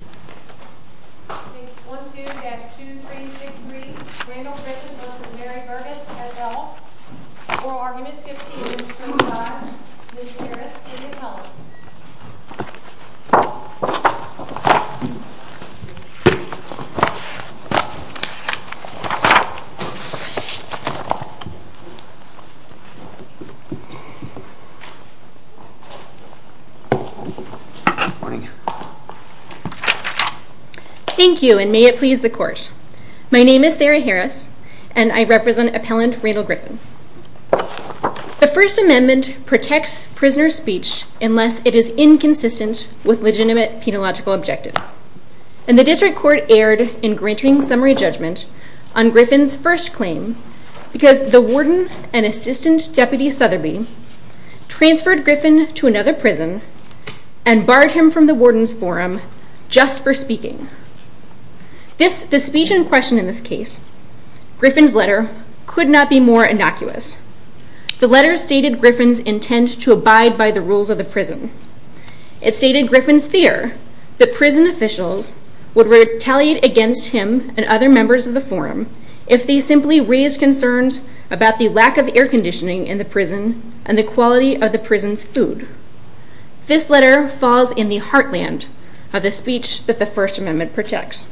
Case 1-2-2363 Randle Griffin v. Mary Berghuis, NFL Oral Argument 15-25 Ms. Harris, Indian Health Morning Thank you, and may it please the Court. My name is Sarah Harris, and I represent Appellant Randle Griffin. The First Amendment protects prisoner speech unless it is inconsistent with legitimate penological objectives, and the District Court erred in granting summary judgment on Griffin's first claim because the Warden and Assistant Deputy Sotherby transferred Griffin to another prison and barred him from the Warden's Forum just for speaking. The speech in question in this case, Griffin's letter, could not be more innocuous. The letter stated Griffin's intent to abide by the rules of the prison. It stated Griffin's fear that prison officials would retaliate against him and other members of the Forum if they simply raised concerns about the lack of air conditioning in the prison and the quality of the prison's food. This letter falls in the heartland of the speech that the First Amendment protects,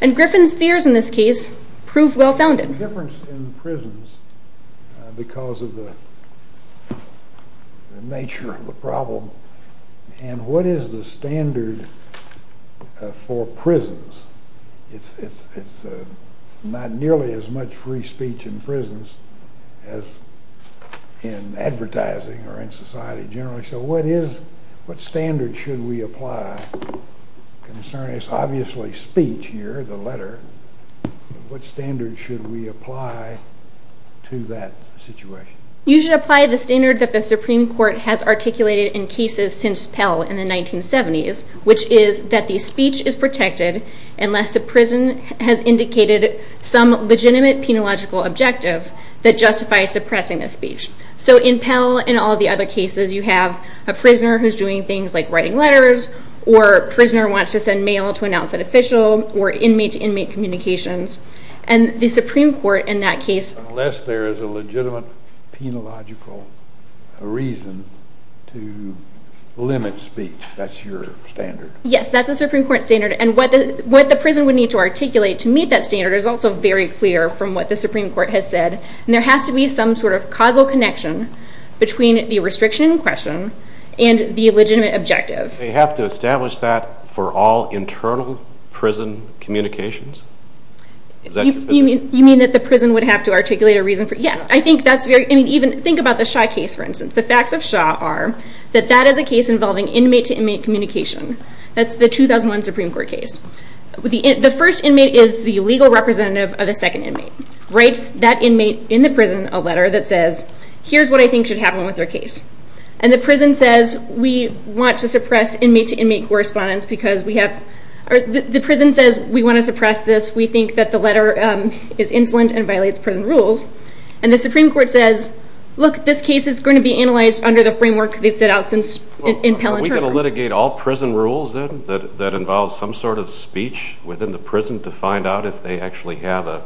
and Griffin's fears in this case prove well-founded. There's a difference in prisons because of the nature of the problem, and what is the standard for prisons? It's not nearly as much free speech in prisons as in advertising or in society generally, so what standard should we apply? It's obviously speech here, the letter, but what standard should we apply to that situation? You should apply the standard that the Supreme Court has articulated in cases since Pell in the 1970s, which is that the speech is protected unless the prison has indicated some legitimate penological objective that justifies suppressing the speech. In Pell and all the other cases, you have a prisoner who's doing things like writing letters or a prisoner wants to send mail to announce an official or inmate-to-inmate communications, and the Supreme Court in that case... Unless there is a legitimate penological reason to limit speech, that's your standard? Yes, that's the Supreme Court standard, and what the prison would need to articulate to meet that standard is also very clear from what the Supreme Court has said, and there has to be some sort of causal connection between the restriction in question and the legitimate objective. They have to establish that for all internal prison communications? You mean that the prison would have to articulate a reason for... Yes, I think that's very... Think about the Shaw case, for instance. The facts of Shaw are that that is a case involving inmate-to-inmate communication. That's the 2001 Supreme Court case. The first inmate is the legal representative of the second inmate, writes that inmate in the prison a letter that says, here's what I think should happen with your case, and the prison says, we want to suppress inmate-to-inmate correspondence because we have... The prison says, we want to suppress this. We think that the letter is insolent and violates prison rules, and the Supreme Court says, look, this case is going to be analyzed under the framework they've set out since... Are we going to litigate all prison rules that involve some sort of speech within the prison to find out if they actually have an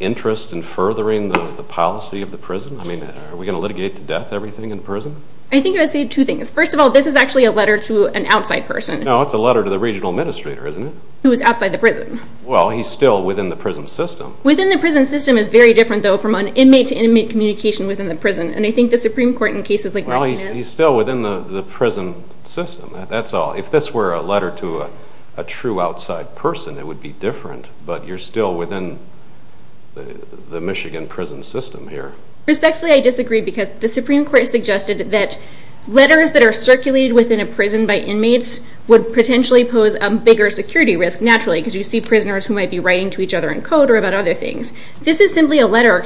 interest in furthering the policy of the prison? I mean, are we going to litigate to death everything in prison? I think I would say two things. First of all, this is actually a letter to an outside person. No, it's a letter to the regional administrator, isn't it? Who is outside the prison. Well, he's still within the prison system. Within the prison system is very different, though, from an inmate-to-inmate communication within the prison, and I think the Supreme Court in cases like Martinez... Well, he's still within the prison system. That's all. If this were a letter to a true outside person, it would be different, but you're still within the Michigan prison system here. Respectfully, I disagree because the Supreme Court suggested that letters that are circulated within a prison by inmates would potentially pose a bigger security risk, naturally, because you see prisoners who might be writing to each other in code or about other things. This is simply a letter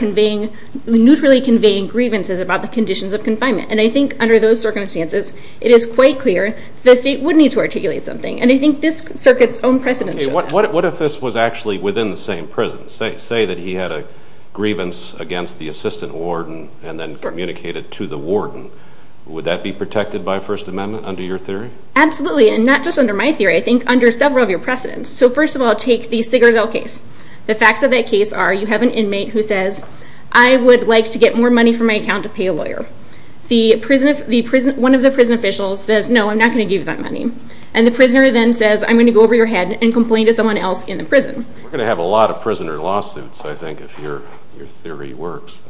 neutrally conveying grievances about the conditions of confinement, and I think under those circumstances it is quite clear the state would need to articulate something, and I think this circuit's own precedent should... What if this was actually within the same prison? Say that he had a grievance against the assistant warden and then communicated to the warden. Would that be protected by First Amendment under your theory? Absolutely, and not just under my theory. I think under several of your precedents. So first of all, take the Sigurdsdal case. The facts of that case are you have an inmate who says, I would like to get more money from my account to pay a lawyer. One of the prison officials says, No, I'm not going to give you that money. And the prisoner then says, I'm going to go over your head and complain to someone else in the prison. We're going to have a lot of prisoner lawsuits, I think, if your theory works.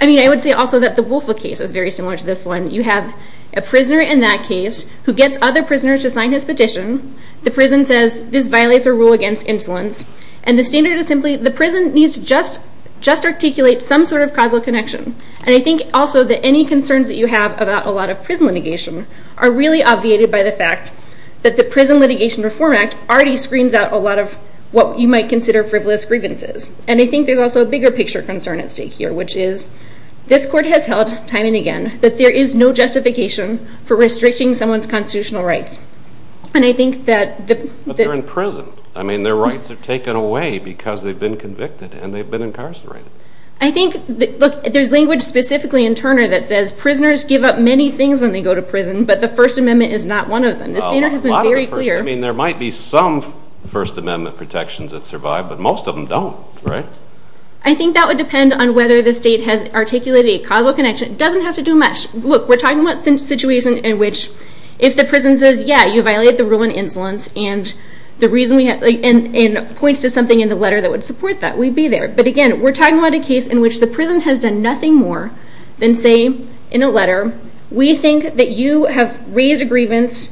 I mean, I would say also that the Wolfa case is very similar to this one. You have a prisoner in that case who gets other prisoners to sign his petition. The prison says, This violates a rule against insolence, and the standard is simply the prison needs to just articulate some sort of causal connection, and I think also that any concerns that you have about a lot of prison litigation are really obviated by the fact that the Prison Litigation Reform Act already screens out a lot of what you might consider frivolous grievances. And I think there's also a bigger picture concern at stake here, which is this court has held, time and again, that there is no justification for restricting someone's constitutional rights. And I think that the- But they're in prison. I mean, their rights are taken away because they've been convicted and they've been incarcerated. I think, look, there's language specifically in Turner that says, Prisoners give up many things when they go to prison, but the First Amendment is not one of them. The standard has been very clear. I mean, there might be some First Amendment protections that survive, but most of them don't, right? I think that would depend on whether the state has articulated a causal connection. It doesn't have to do much. Look, we're talking about a situation in which if the prison says, Yeah, you violated the rule on insolence, and points to something in the letter that would support that, we'd be there. But, again, we're talking about a case in which the prison has done nothing more than say in a letter, We think that you have raised a grievance.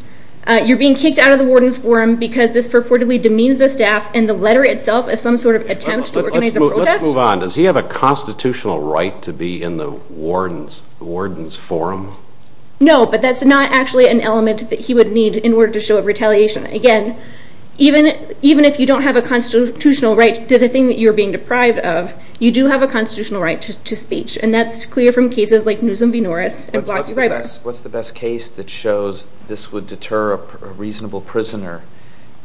You're being kicked out of the Warden's Forum because this purportedly demeans the staff and the letter itself as some sort of attempt to organize a protest. Let's move on. Does he have a constitutional right to be in the Warden's Forum? No, but that's not actually an element that he would need in order to show retaliation. Again, even if you don't have a constitutional right to the thing that you're being deprived of, you do have a constitutional right to speech. And that's clear from cases like Newsom v. Norris. What's the best case that shows this would deter a reasonable prisoner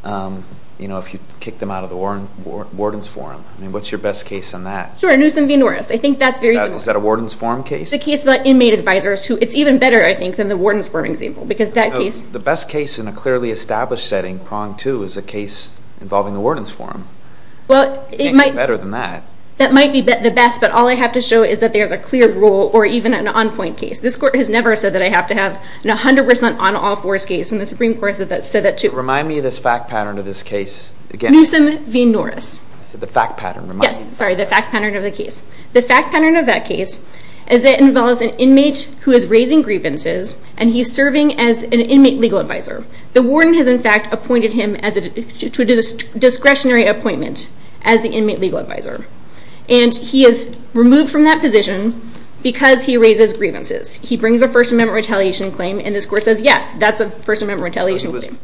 if you kick them out of the Warden's Forum? What's your best case on that? Sure, Newsom v. Norris. Is that a Warden's Forum case? It's a case about inmate advisors. It's even better, I think, than the Warden's Forum example. The best case in a clearly established setting, prong two, is a case involving the Warden's Forum. It can't get better than that. That might be the best, but all I have to show is that there's a clear rule, or even an on-point case. This Court has never said that I have to have an 100% on-all-fours case, and the Supreme Court said that too. Remind me of this fact pattern of this case again. Newsom v. Norris. I said the fact pattern. Yes, sorry, the fact pattern of the case. The fact pattern of that case is that it involves an inmate who is raising grievances, and he's serving as an inmate legal advisor. The Warden has, in fact, appointed him to a discretionary appointment as the inmate legal advisor. And he is removed from that position because he raises grievances. He brings a First Amendment retaliation claim, and this Court says, yes, that's a First Amendment retaliation claim. So he was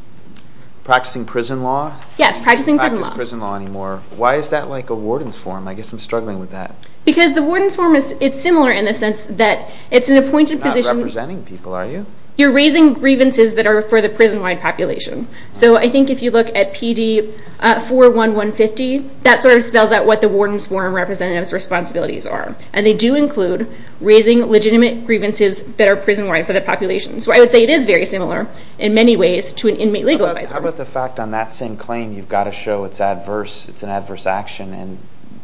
practicing prison law? Yes, practicing prison law. He doesn't practice prison law anymore. Why is that like a Warden's Forum? I guess I'm struggling with that. Because the Warden's Forum is similar in the sense that it's an appointed position. You're not representing people, are you? You're raising grievances that are for the prison-wide population. So I think if you look at PD 41150, that sort of spells out what the Warden's Forum representative's responsibilities are. And they do include raising legitimate grievances that are prison-wide for the population. So I would say it is very similar, in many ways, to an inmate legal advisor. How about the fact on that same claim you've got to show it's adverse, it's an adverse action, and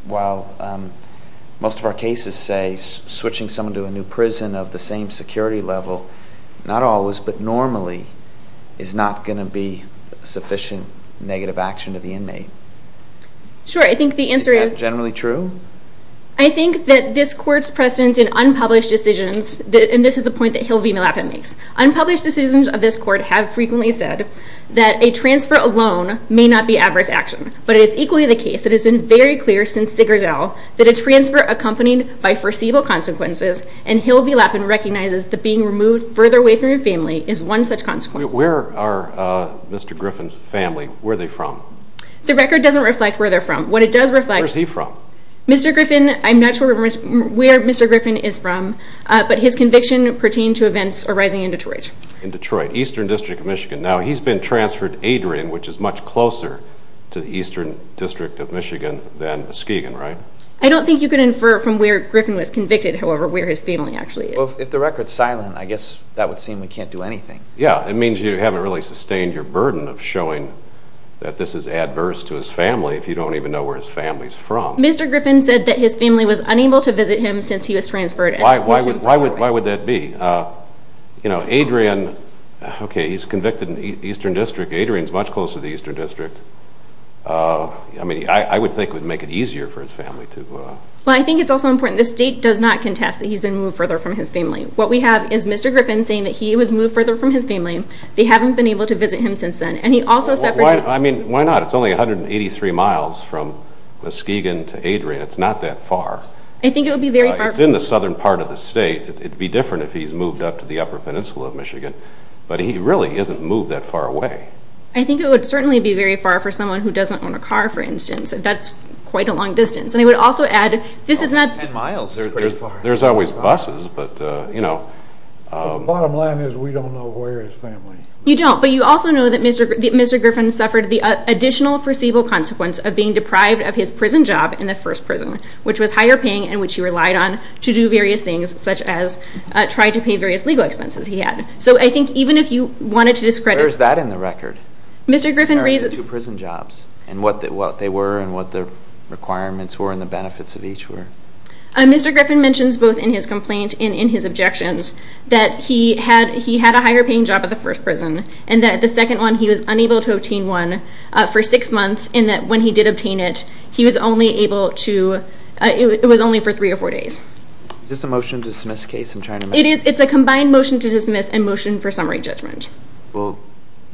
while most of our cases say switching someone to a new prison of the same security level, not always, but normally, is not going to be sufficient negative action to the inmate. Sure, I think the answer is... Is that generally true? I think that this Court's precedent in unpublished decisions, and this is a point that Hill v. Lapin makes, unpublished decisions of this Court have frequently said that a transfer alone may not be adverse action. But it is equally the case, it has been very clear since Digger's Owl, that a transfer accompanied by foreseeable consequences, and Hill v. Lapin recognizes that being removed further away from your family is one such consequence. Where are Mr. Griffin's family, where are they from? The record doesn't reflect where they're from. What it does reflect... Where is he from? Mr. Griffin, I'm not sure where Mr. Griffin is from, but his conviction pertained to events arising in Detroit. In Detroit, Eastern District of Michigan. Now, he's been transferred to Adrian, which is much closer to the Eastern District of Michigan than Skeegan, right? I don't think you can infer from where Griffin was convicted, however, where his family actually is. Well, if the record's silent, I guess that would seem we can't do anything. Yeah, it means you haven't really sustained your burden of showing that this is adverse to his family if you don't even know where his family's from. Mr. Griffin said that his family was unable to visit him since he was transferred. Why would that be? You know, Adrian... Okay, he's convicted in the Eastern District. Adrian's much closer to the Eastern District. I mean, I would think it would make it easier for his family to... Well, I think it's also important. The state does not contest that he's been moved further from his family. What we have is Mr. Griffin saying that he was moved further from his family. They haven't been able to visit him since then. And he also said... I mean, why not? It's only 183 miles from Skeegan to Adrian. It's not that far. I think it would be very far... It's in the southern part of the state. It'd be different if he's moved up to the upper peninsula of Michigan. But he really isn't moved that far away. I think it would certainly be very far for someone who doesn't own a car, for instance. That's quite a long distance. And I would also add... About 10 miles is pretty far. There's always buses, but, you know... The bottom line is we don't know where his family... You don't. But you also know that Mr. Griffin suffered the additional foreseeable consequence of being deprived of his prison job in the first prison, which was higher paying and which he relied on to do various things, such as try to pay various legal expenses he had. So I think even if you wanted to discredit... Where is that in the record? Mr. Griffin raises... There are two prison jobs and what they were and what the requirements were and the benefits of each were. Mr. Griffin mentions both in his complaint and in his objections that he had a higher paying job at the first prison and that at the second one he was unable to obtain one for six months and that when he did obtain it, he was only able to... It was only for three or four days. Is this a motion to dismiss case I'm trying to make? It's a combined motion to dismiss and motion for summary judgment. Well,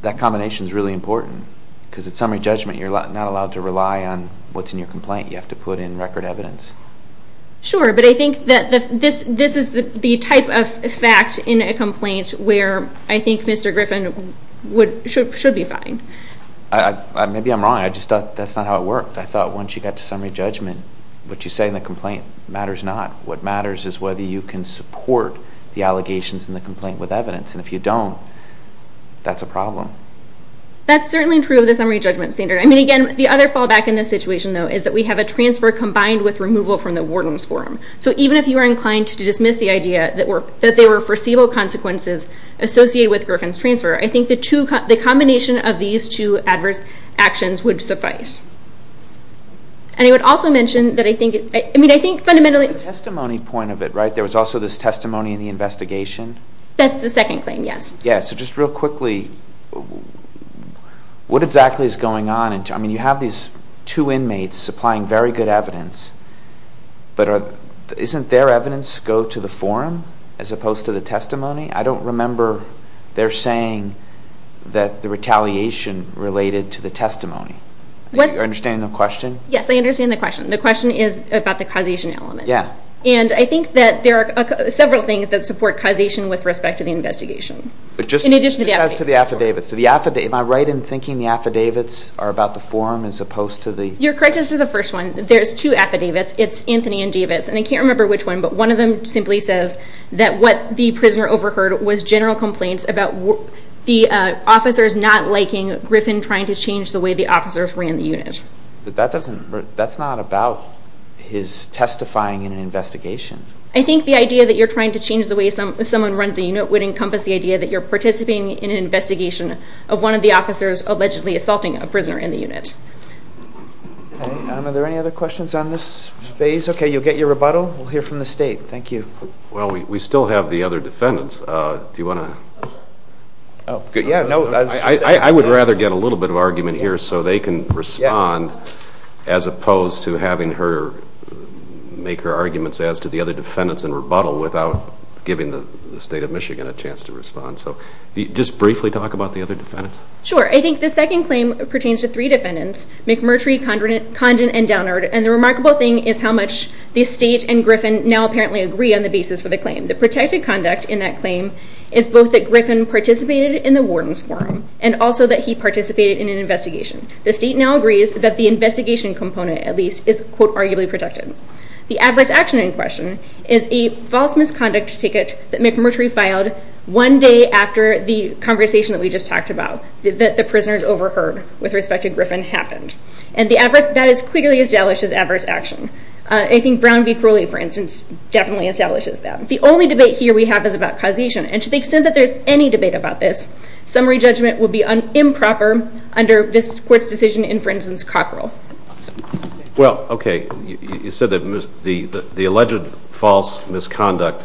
that combination is really important because at summary judgment you're not allowed to rely on what's in your complaint. You have to put in record evidence. Sure, but I think that this is the type of fact in a complaint where I think Mr. Griffin should be fine. Maybe I'm wrong. I just thought that's not how it worked. I thought once you got to summary judgment, what you say in the complaint matters not. What matters is whether you can support the allegations in the complaint with evidence, and if you don't, that's a problem. That's certainly true of the summary judgment standard. I mean, again, the other fallback in this situation, though, is that we have a transfer combined with removal from the warden's forum. So even if you are inclined to dismiss the idea that there were foreseeable consequences associated with Griffin's transfer, I think the combination of these two adverse actions would suffice. And I would also mention that I think fundamentally... The testimony point of it, right? There was also this testimony in the investigation? That's the second claim, yes. Yeah, so just real quickly, what exactly is going on? I mean, you have these two inmates supplying very good evidence, but isn't their evidence go to the forum as opposed to the testimony? I don't remember their saying that the retaliation related to the testimony. Are you understanding the question? Yes, I understand the question. The question is about the causation element. And I think that there are several things that support causation with respect to the investigation, in addition to the affidavits. Am I right in thinking the affidavits are about the forum as opposed to the... You're correct as to the first one. There's two affidavits. It's Anthony and Davis. And I can't remember which one, but one of them simply says that what the prisoner overheard was general complaints about the officers not liking Griffin trying to change the way the officers ran the unit. But that's not about his testifying in an investigation. I think the idea that you're trying to change the way someone runs the unit would encompass the idea that you're participating in an investigation of one of the officers allegedly assaulting a prisoner in the unit. Are there any other questions on this phase? Okay, you'll get your rebuttal. We'll hear from the State. Thank you. Well, we still have the other defendants. Do you want to... I would rather get a little bit of argument here so they can respond as opposed to having her make her arguments as to the other defendants and rebuttal without giving the State of Michigan a chance to respond. So just briefly talk about the other defendants. Sure. I think the second claim pertains to three defendants, McMurtry, Condon, and Downard. And the remarkable thing is how much the State and Griffin now apparently agree on the basis for the claim. The protected conduct in that claim is both that Griffin participated in the warden's forum and also that he participated in an investigation. The State now agrees that the investigation component, at least, is, quote, arguably protected. The adverse action in question is a false misconduct ticket that McMurtry filed one day after the conversation that we just talked about, that the prisoners overheard with respect to Griffin happened. And that is clearly established as adverse action. I think Brown v. Crowley, for instance, definitely establishes that. The only debate here we have is about causation. And to the extent that there's any debate about this, summary judgment would be improper under this Court's decision in, for instance, Cockrell. Well, okay. You said that the alleged false misconduct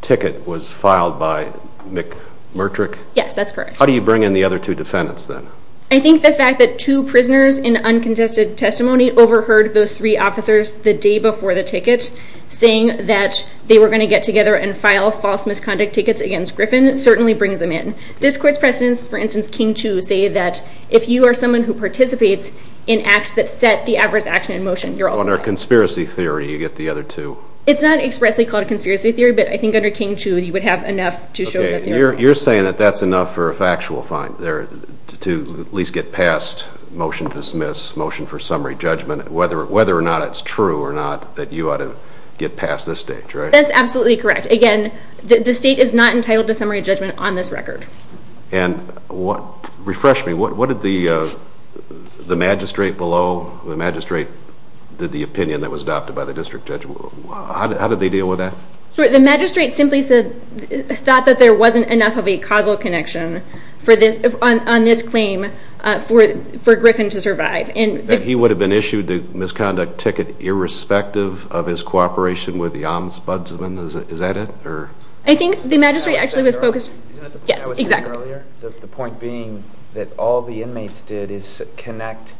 ticket was filed by McMurtry? Yes, that's correct. How do you bring in the other two defendants, then? I think the fact that two prisoners in uncontested testimony overheard those three officers the day before the ticket saying that they were going to get together and file false misconduct tickets against Griffin certainly brings them in. This Court's precedents, for instance, King Chu, say that if you are someone who participates in acts that set the adverse action in motion, you're also entitled to summary judgment. Under conspiracy theory, you get the other two. It's not expressly called a conspiracy theory, but I think under King Chu, you would have enough to show that they are. You're saying that that's enough for a factual fine to at least get past motion to dismiss, motion for summary judgment, whether or not it's true or not that you ought to get past this stage, right? That's absolutely correct. Again, the State is not entitled to summary judgment on this record. And refresh me. What did the magistrate below, the magistrate that did the opinion that was adopted by the district judge, how did they deal with that? The magistrate simply thought that there wasn't enough of a causal connection on this claim for Griffin to survive. That he would have been issued the misconduct ticket irrespective of his cooperation with the Ombudsman. Is that it? I think the magistrate actually was focused... Yes, exactly. The point being that all the inmates did is connect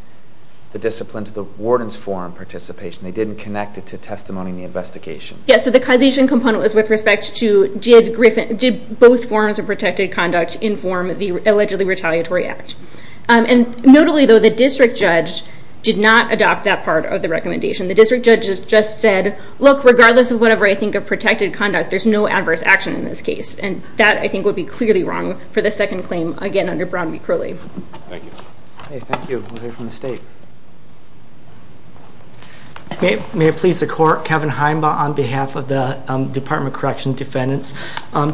the discipline to the warden's forum participation. They didn't connect it to testimony in the investigation. Yes, so the causation component was with respect to did both forms of protected conduct inform the allegedly retaliatory act. Notably though, the district judge did not adopt that part of the recommendation. The district judge just said, look, regardless of whatever I think of protected conduct, there's no adverse action in this case. That, I think, would be clearly wrong for the second claim, again, under Brown v. Crowley. Thank you. We'll hear from the State. May it please the Court, Kevin Heimbaugh on behalf of the Department of Correctional Defendants.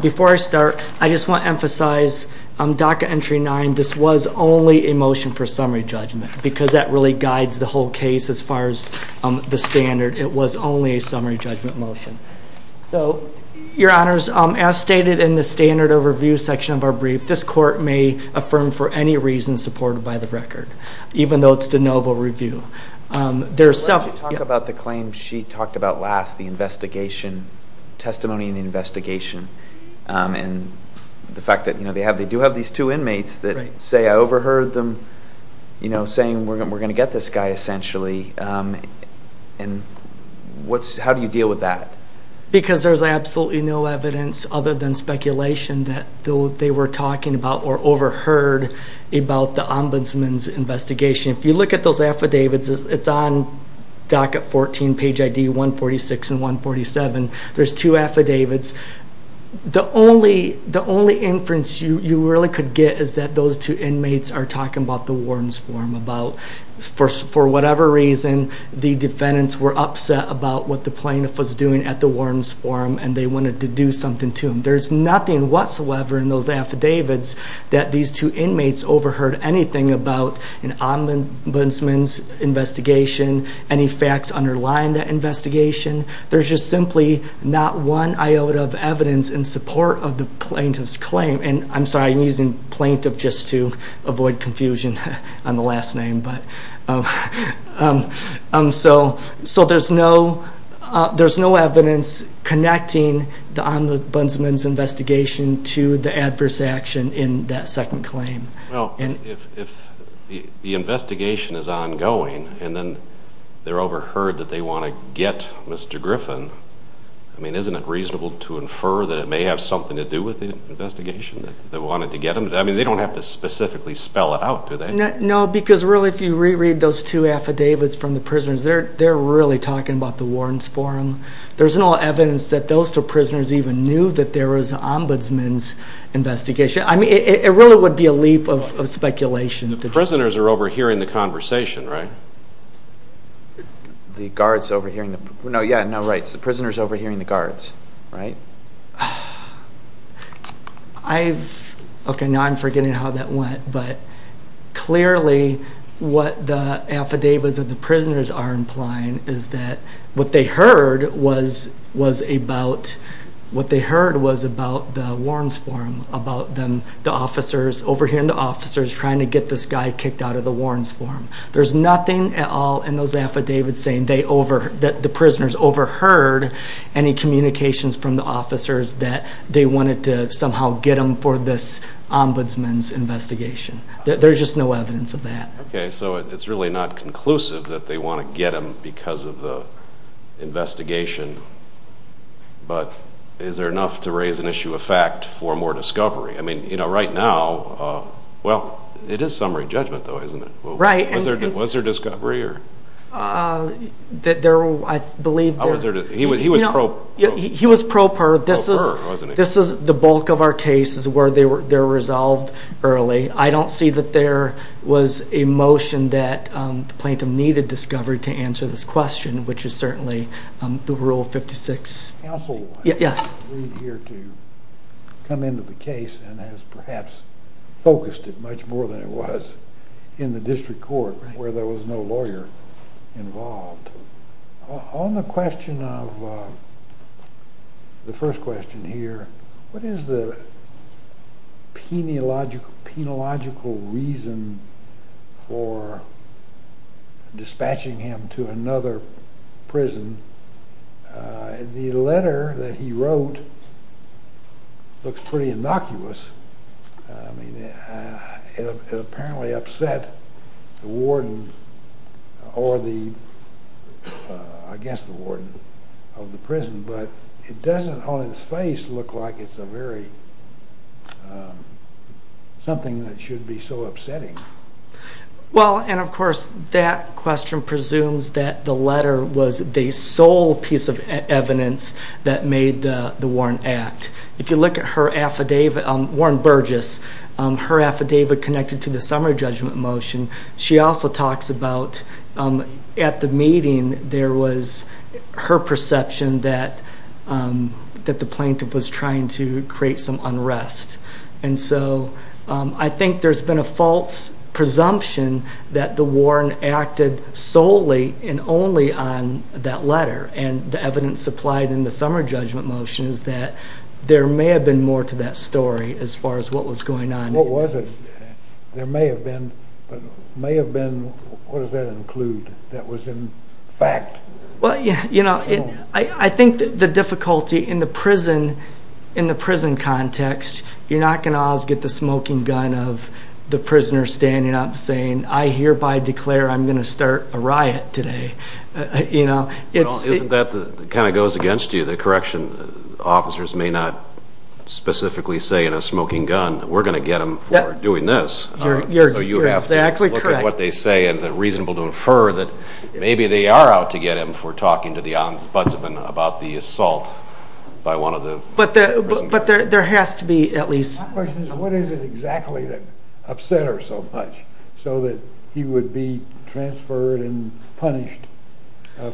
Before I start, I just want to emphasize DACA Entry 9, this was only a motion for summary judgment because that really guides the whole case as far as the standard. It was only a summary judgment motion. Your Honors, as stated in the standard of review section of our brief, this Court may affirm for any reason supported by the record, even though it's de novo review. You talked about the claim she talked about last, the investigation, testimony in the investigation, and the fact that they do I overheard them saying we're going to get this guy, essentially. And how do you deal with that? Because there's absolutely no evidence other than speculation that they were talking about or overheard about the Ombudsman's investigation. If you look at those affidavits, it's on docket 14, page ID 146 and 147. There's two affidavits. The only inference you really could get is that those two inmates are talking about the warrants form, about, for whatever reason, the defendants were upset about what the plaintiff was doing at the warrants form, and they wanted to do something to him. There's nothing whatsoever in those affidavits that these two inmates overheard anything about an Ombudsman's investigation, any facts underlying that investigation. There's just simply not one iota of evidence in support of the plaintiff's claim. And I'm sorry, I'm using plaintiff just to get rid of his name. So there's no evidence connecting the Ombudsman's investigation to the adverse action in that second claim. Well, if the investigation is ongoing, and then they're overheard that they want to get Mr. Griffin, I mean, isn't it reasonable to infer that it may have something to do with the investigation? I mean, they don't have to specifically spell it out, do they? No, because really, if you reread those two affidavits from the prisoners, they're really talking about the warrants form. There's no evidence that those two prisoners even knew that there was an Ombudsman's investigation. I mean, it really would be a leap of speculation. The prisoners are overhearing the conversation, right? The guards overhearing the... No, yeah, no, right. So the prisoners overhearing the guards, right? I've... But clearly what the affidavits of the prisoners are implying is that what they heard was about... What they heard was about the warrants form, about them, the officers overhearing the officers trying to get this guy kicked out of the warrants form. There's nothing at all in those affidavits saying that the prisoners overheard any communications from the officers that they wanted to somehow get them for this investigation. There's just no evidence of that. Okay, so it's really not conclusive that they want to get them because of the investigation, but is there enough to raise an issue of fact for more discovery? I mean, you know, right now, well, it is summary judgment though, isn't it? Right. Was there discovery or... I believe there... He was pro... He was pro per. This is the bulk of our cases where they're resolved early. I don't see that there was a motion that Plaintiff needed discovered to answer this question, which is certainly the Rule 56. Counsel? Yes. We're here to come into the case and has perhaps focused it much more than it was in the district court where there was no lawyer involved. On the question of... The first question here, what is the penological reason for dispatching him to another prison? The letter that he wrote looks pretty innocuous. I mean, it apparently upset the warden or the... I guess the warden of the prison, but it doesn't on its face look like it's a very... something that should be so upsetting. Well, and of course, that question presumes that the letter was the sole piece of evidence that made the Warren Act. If you look at her affidavit, Warren Burgess, her affidavit connected to the summary judgment motion, she also talks about at the meeting there was her perception that the plaintiff was trying to create some unrest. And so, I think there's been a false presumption that the Warren acted solely and only on that letter. And the evidence supplied in the summary judgment motion is that there may have been more to that story as far as what was going on. What was it? There may have been... What does that include? That was in fact... Well, you know, I think the difficulty in the prison context, you're not going to always get the smoking gun of the prisoner standing up saying, I hereby declare I'm going to start a riot today. You know, it's... That kind of goes against you. The correction officers may not specifically say in a smoking gun we're going to get them for doing this. You're exactly correct. What they say is reasonable to infer that maybe they are out to get him for talking to the ombudsman about the assault by one of the prisoners. But there has to be at least... My question is, what is it exactly that upset her so much so that he would be transferred and punished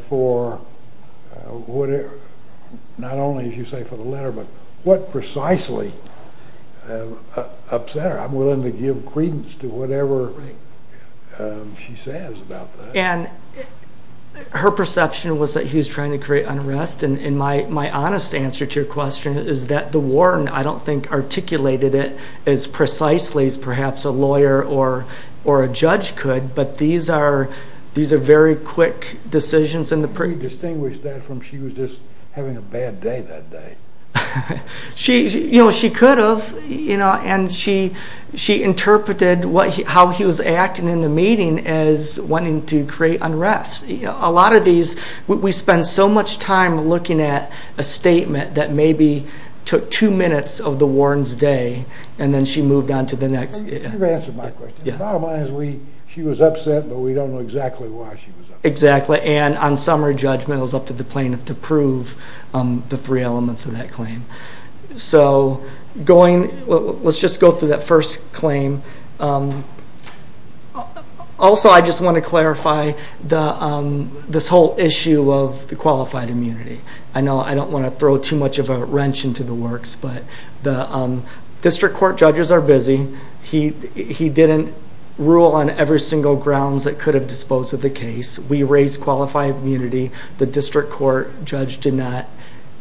for what it... Not only, as you say, for the letter, but what precisely upset her? I'm willing to give credence to whatever she says about that. And her perception was that he was trying to create unrest and my honest answer to your question is that the warden, I don't think, articulated it as precisely as perhaps a lawyer or a judge could, but these are very quick decisions in the... Can you distinguish that from she was just having a bad day that day? You know, she could have. You know, and she interpreted how he was acting in the meeting as wanting to create unrest. A lot of these... We spend so much time looking at a statement that maybe took two minutes of the warden's day and then she moved on to the next... You've answered my question. Bottom line is she was upset, but we don't know exactly why she was upset. Exactly. And on some of her judgment it was up to the plaintiff to prove the three elements of that claim. So going... Let's just go through that first claim. Also I just want to clarify this whole issue of the qualified immunity. I know I don't want to throw too much of a wrench into the works, but the district court judges are busy. He didn't rule on every single grounds that could have disposed of the case. We raised qualified immunity. The district court judge did not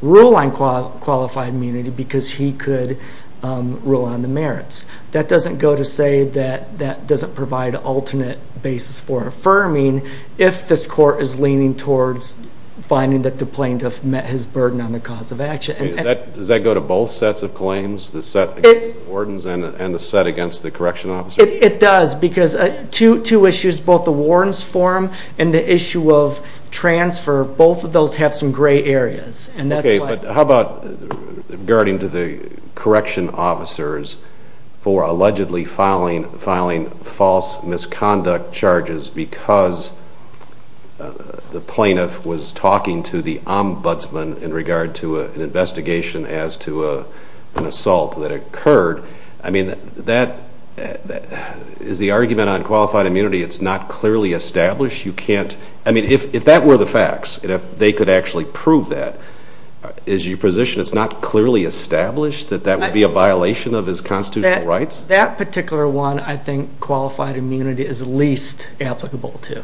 rule on qualified immunity because he could rule on the merits. That doesn't go to say that that doesn't provide an alternate basis for affirming if this court is leaning towards finding that the plaintiff met his burden on the cause of action. Does that go to both sets of claims? The set against the wardens and the set against the correction officers? It does because two issues, both the warden's forum and the issue of transfer, both of those have some gray areas. How about regarding to the correction officers for allegedly filing false misconduct charges because the plaintiff was talking to the ombudsman in regard to an investigation as to an assault that occurred. That is the argument on qualified immunity. It's not clearly established. If that were the facts and if they could actually prove that, is your position it's not clearly established that that would be a violation of his constitutional rights? That particular one, I think qualified immunity is least applicable to.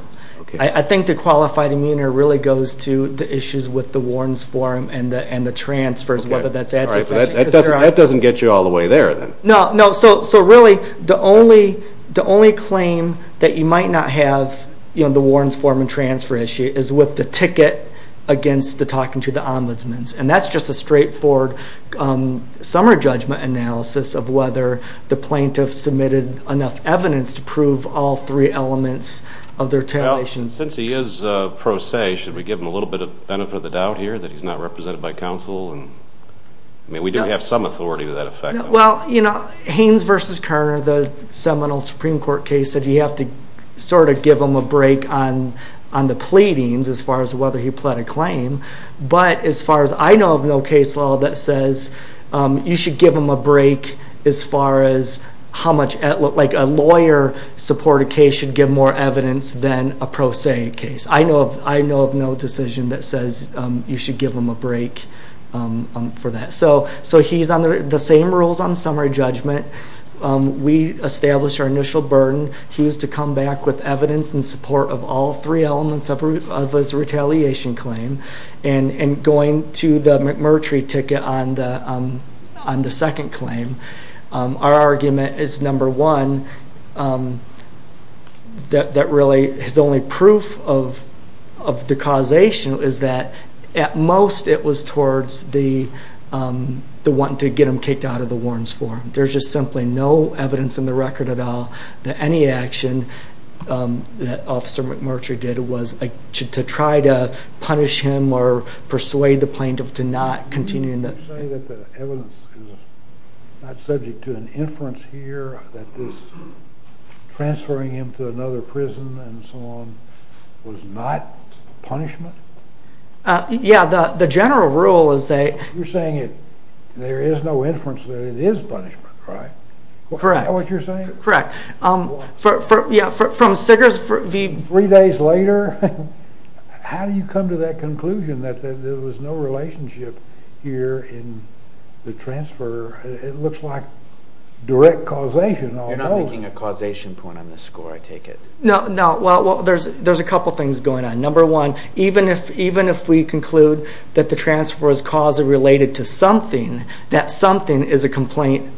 I think the qualified immunity really goes to the issues with the warden's forum and the transfers, whether that's advertising. That doesn't get you all the way there. No, so really the only claim that you might not have the warden's forum and transfer issue is with the ticket against the talking to the ombudsman. That's just a straightforward summer judgment analysis of whether the plaintiff submitted enough evidence to prove all three elements of their termination. Since he is pro se, should we give him a little bit of benefit of the doubt here that he's not represented by counsel? We do have some authority to that effect. Haynes versus Kerner, the seminal Supreme Court case said you have to sort of give him a break on the pleadings as far as whether he pled a claim. But as far as I know of no case law that says you should give him a break as far as how much, like a lawyer supported case should give more evidence than a pro se case. I know of no decision that says you should give him a break for that. So he's under the same rules on summary judgment. We established our initial burden. He was to come back with evidence in support of all three elements of his retaliation claim and going to the McMurtry ticket on the second claim. Our argument is number one that really is only proof of the causation is that at most it was towards the wanting to get him kicked out of the Warren's Forum. There's just simply no evidence in the record at all that any action that Officer McMurtry did was to try to punish him or persuade the plaintiff to not continue. You're saying that the evidence is not subject to an inference here that this transferring him to another prison and so on was not punishment? Yeah, the general rule is that you're saying that there is no inference that it is punishment, right? Correct. Is that what you're saying? Correct. Three days later how do you come to that conclusion that there was no relationship here in the transfer? It looks like direct causation You're not making a causation point on this score, I take it. No, there's a couple things going on. Number one even if we conclude that the transfer was caused or related to something, that something is a complaint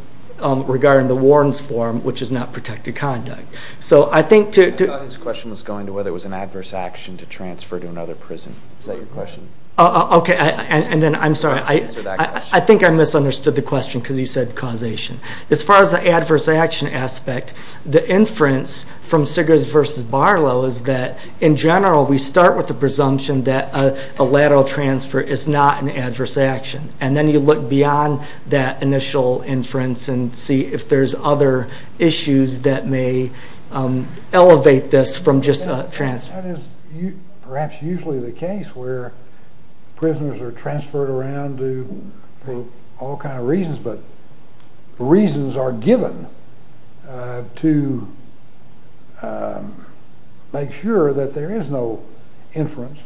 regarding the Warren's Forum, which is not protected conduct. The audience question was going to whether it was an adverse action to transfer to another prison. Is that your question? I'm sorry, I think I misunderstood the question because you said causation. As far as the adverse action aspect, the inference from Sigurds v. Barlow is that in general we start with the transfer is not an adverse action and then you look beyond that initial inference and see if there's other issues that may elevate this from just a transfer. That is perhaps usually the case where prisoners are transferred around for all kinds of reasons, but the reasons are given to make sure that there is no inference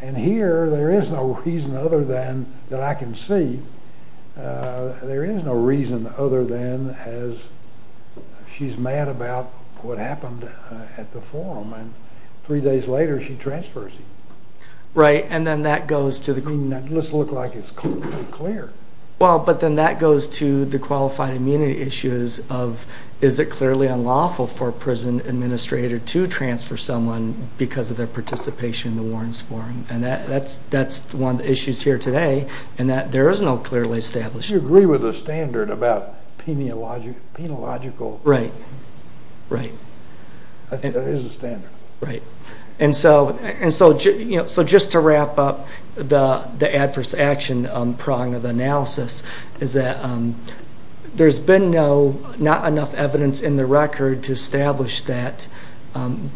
and here there is no reason other than that I can see there is no reason other than she's mad about what happened at the Forum and three days later she transfers him. Let's look like it's completely clear. But then that goes to the qualified immunity issues of is it clearly unlawful for a prison administrator to transfer someone because of their participation in the Warrens Forum and that's one of the issues here today and that there is no clearly established... You agree with the standard about penological... Right. Right. I think that is the standard. Right. And so just to wrap up the adverse action prong of the analysis is that there's been not enough evidence in the record to establish that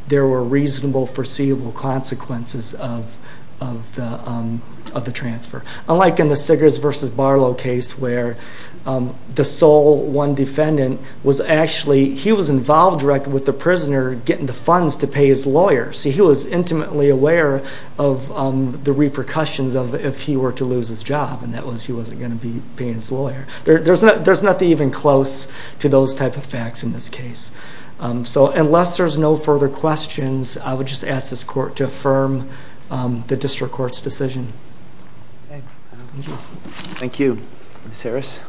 there were reasonable foreseeable consequences of the transfer. Unlike in the Sigurds v. Barlow case where the sole one defendant was actually, he was involved directly with the prisoner getting the funds to pay his lawyer. See he was intimately aware of the repercussions of if he were to lose his job and that was he wasn't going to be paying his lawyer. There's nothing even close to those type of facts in this case. So unless there's no further questions, I would just ask this court to affirm the district court's decision. Thank you. Thank you. Ms. Harris.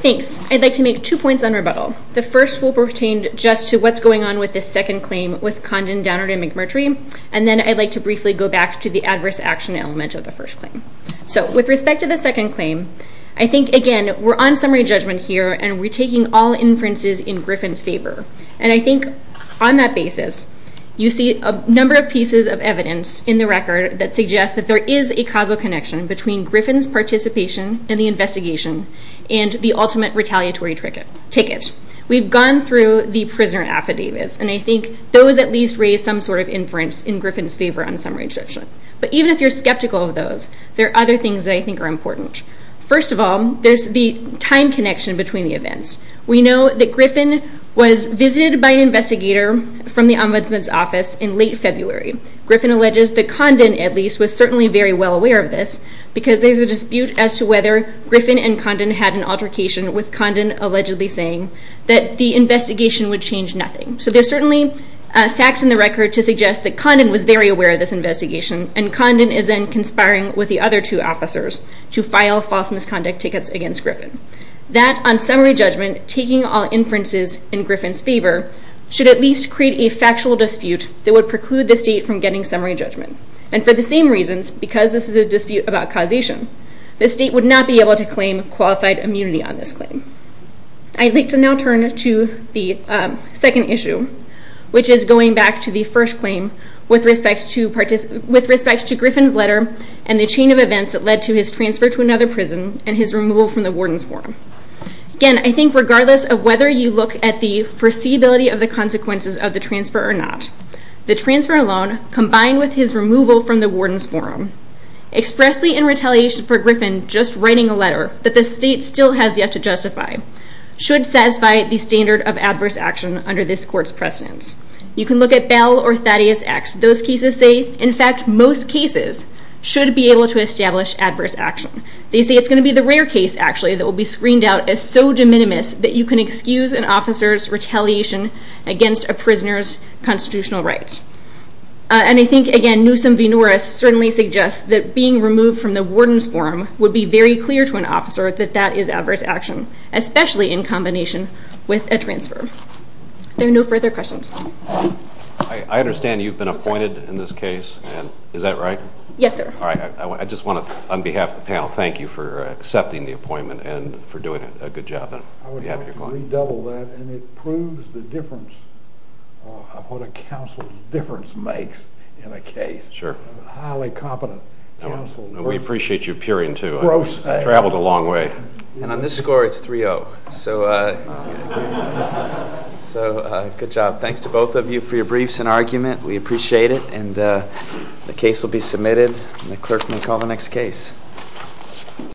Thanks. I'd like to make two points on rebuttal. The first will pertain just to what's going on with this second claim with Condon, Downer, and McMurtry and then I'd like to briefly go back to the adverse action element of the first claim. So with respect to the second claim, I think again we're on summary judgment here and we're taking all inferences in Griffin's favor and I think on that basis you see a number of pieces of evidence in the record that suggests that there is a causal connection between Griffin's participation in the investigation and the ultimate retaliatory ticket. We've gone through the prisoner affidavits and I think those at least raise some sort of inference in Griffin's favor on summary judgment. But even if you're skeptical of those, there are other things that I think are important. First of all, there's the time connection between the events. We know that Griffin was visited by an investigator from the Ombudsman's office in late February. Griffin alleges that Condon at least was certainly very well aware of this because there's a dispute as to whether Griffin and Condon had an altercation with Condon allegedly saying that the investigation would change nothing. So there's certainly facts in the record to suggest that Condon was very aware of this investigation and Condon is then conspiring with the other two officers to file false misconduct tickets against Griffin. That, on summary judgment, taking all inferences in Griffin's favor should at least create a factual dispute that would preclude the state from getting summary judgment. And for the same reasons, because this is a dispute about causation, the state would not be able to claim qualified immunity on this claim. I'd like to now turn to the second issue which is going back to the first claim with respect to Griffin's letter and the chain of events that led to his transfer to another prison and his removal from the Warden's Forum. Again, I think regardless of whether you look at the foreseeability of the consequences of the transfer or not, the transfer alone combined with his removal from the Warden's Forum expressly in retaliation for Griffin just writing a letter that the state still has yet to justify should satisfy the standard of adverse action under this court's precedence. You can look at Bell or Thaddeus X. Those cases say, in fact, most cases should be able to establish adverse action. They say it's going to be the rare case, actually, that will be screened out as so de minimis that you can excuse an officer's retaliation against a prisoner's constitutional rights. And I think again, Newsom v. Norris certainly suggests that being removed from the Warden's Forum would be very clear to an officer that that is adverse action, especially in combination with a transfer. There are no further questions. I understand you've been appointed in this case. Is that right? Yes, sir. On behalf of the panel, thank you for accepting the appointment and for doing a good job. I would like to redouble that, and it proves the difference of what a counsel's difference makes in a case. A highly competent counsel. And we appreciate you appearing too. I've traveled a long way. And on this score, it's 3-0. So good job. Thanks to both of you for your briefs and argument. We appreciate it. And the case will be submitted, and the clerk may call the next case.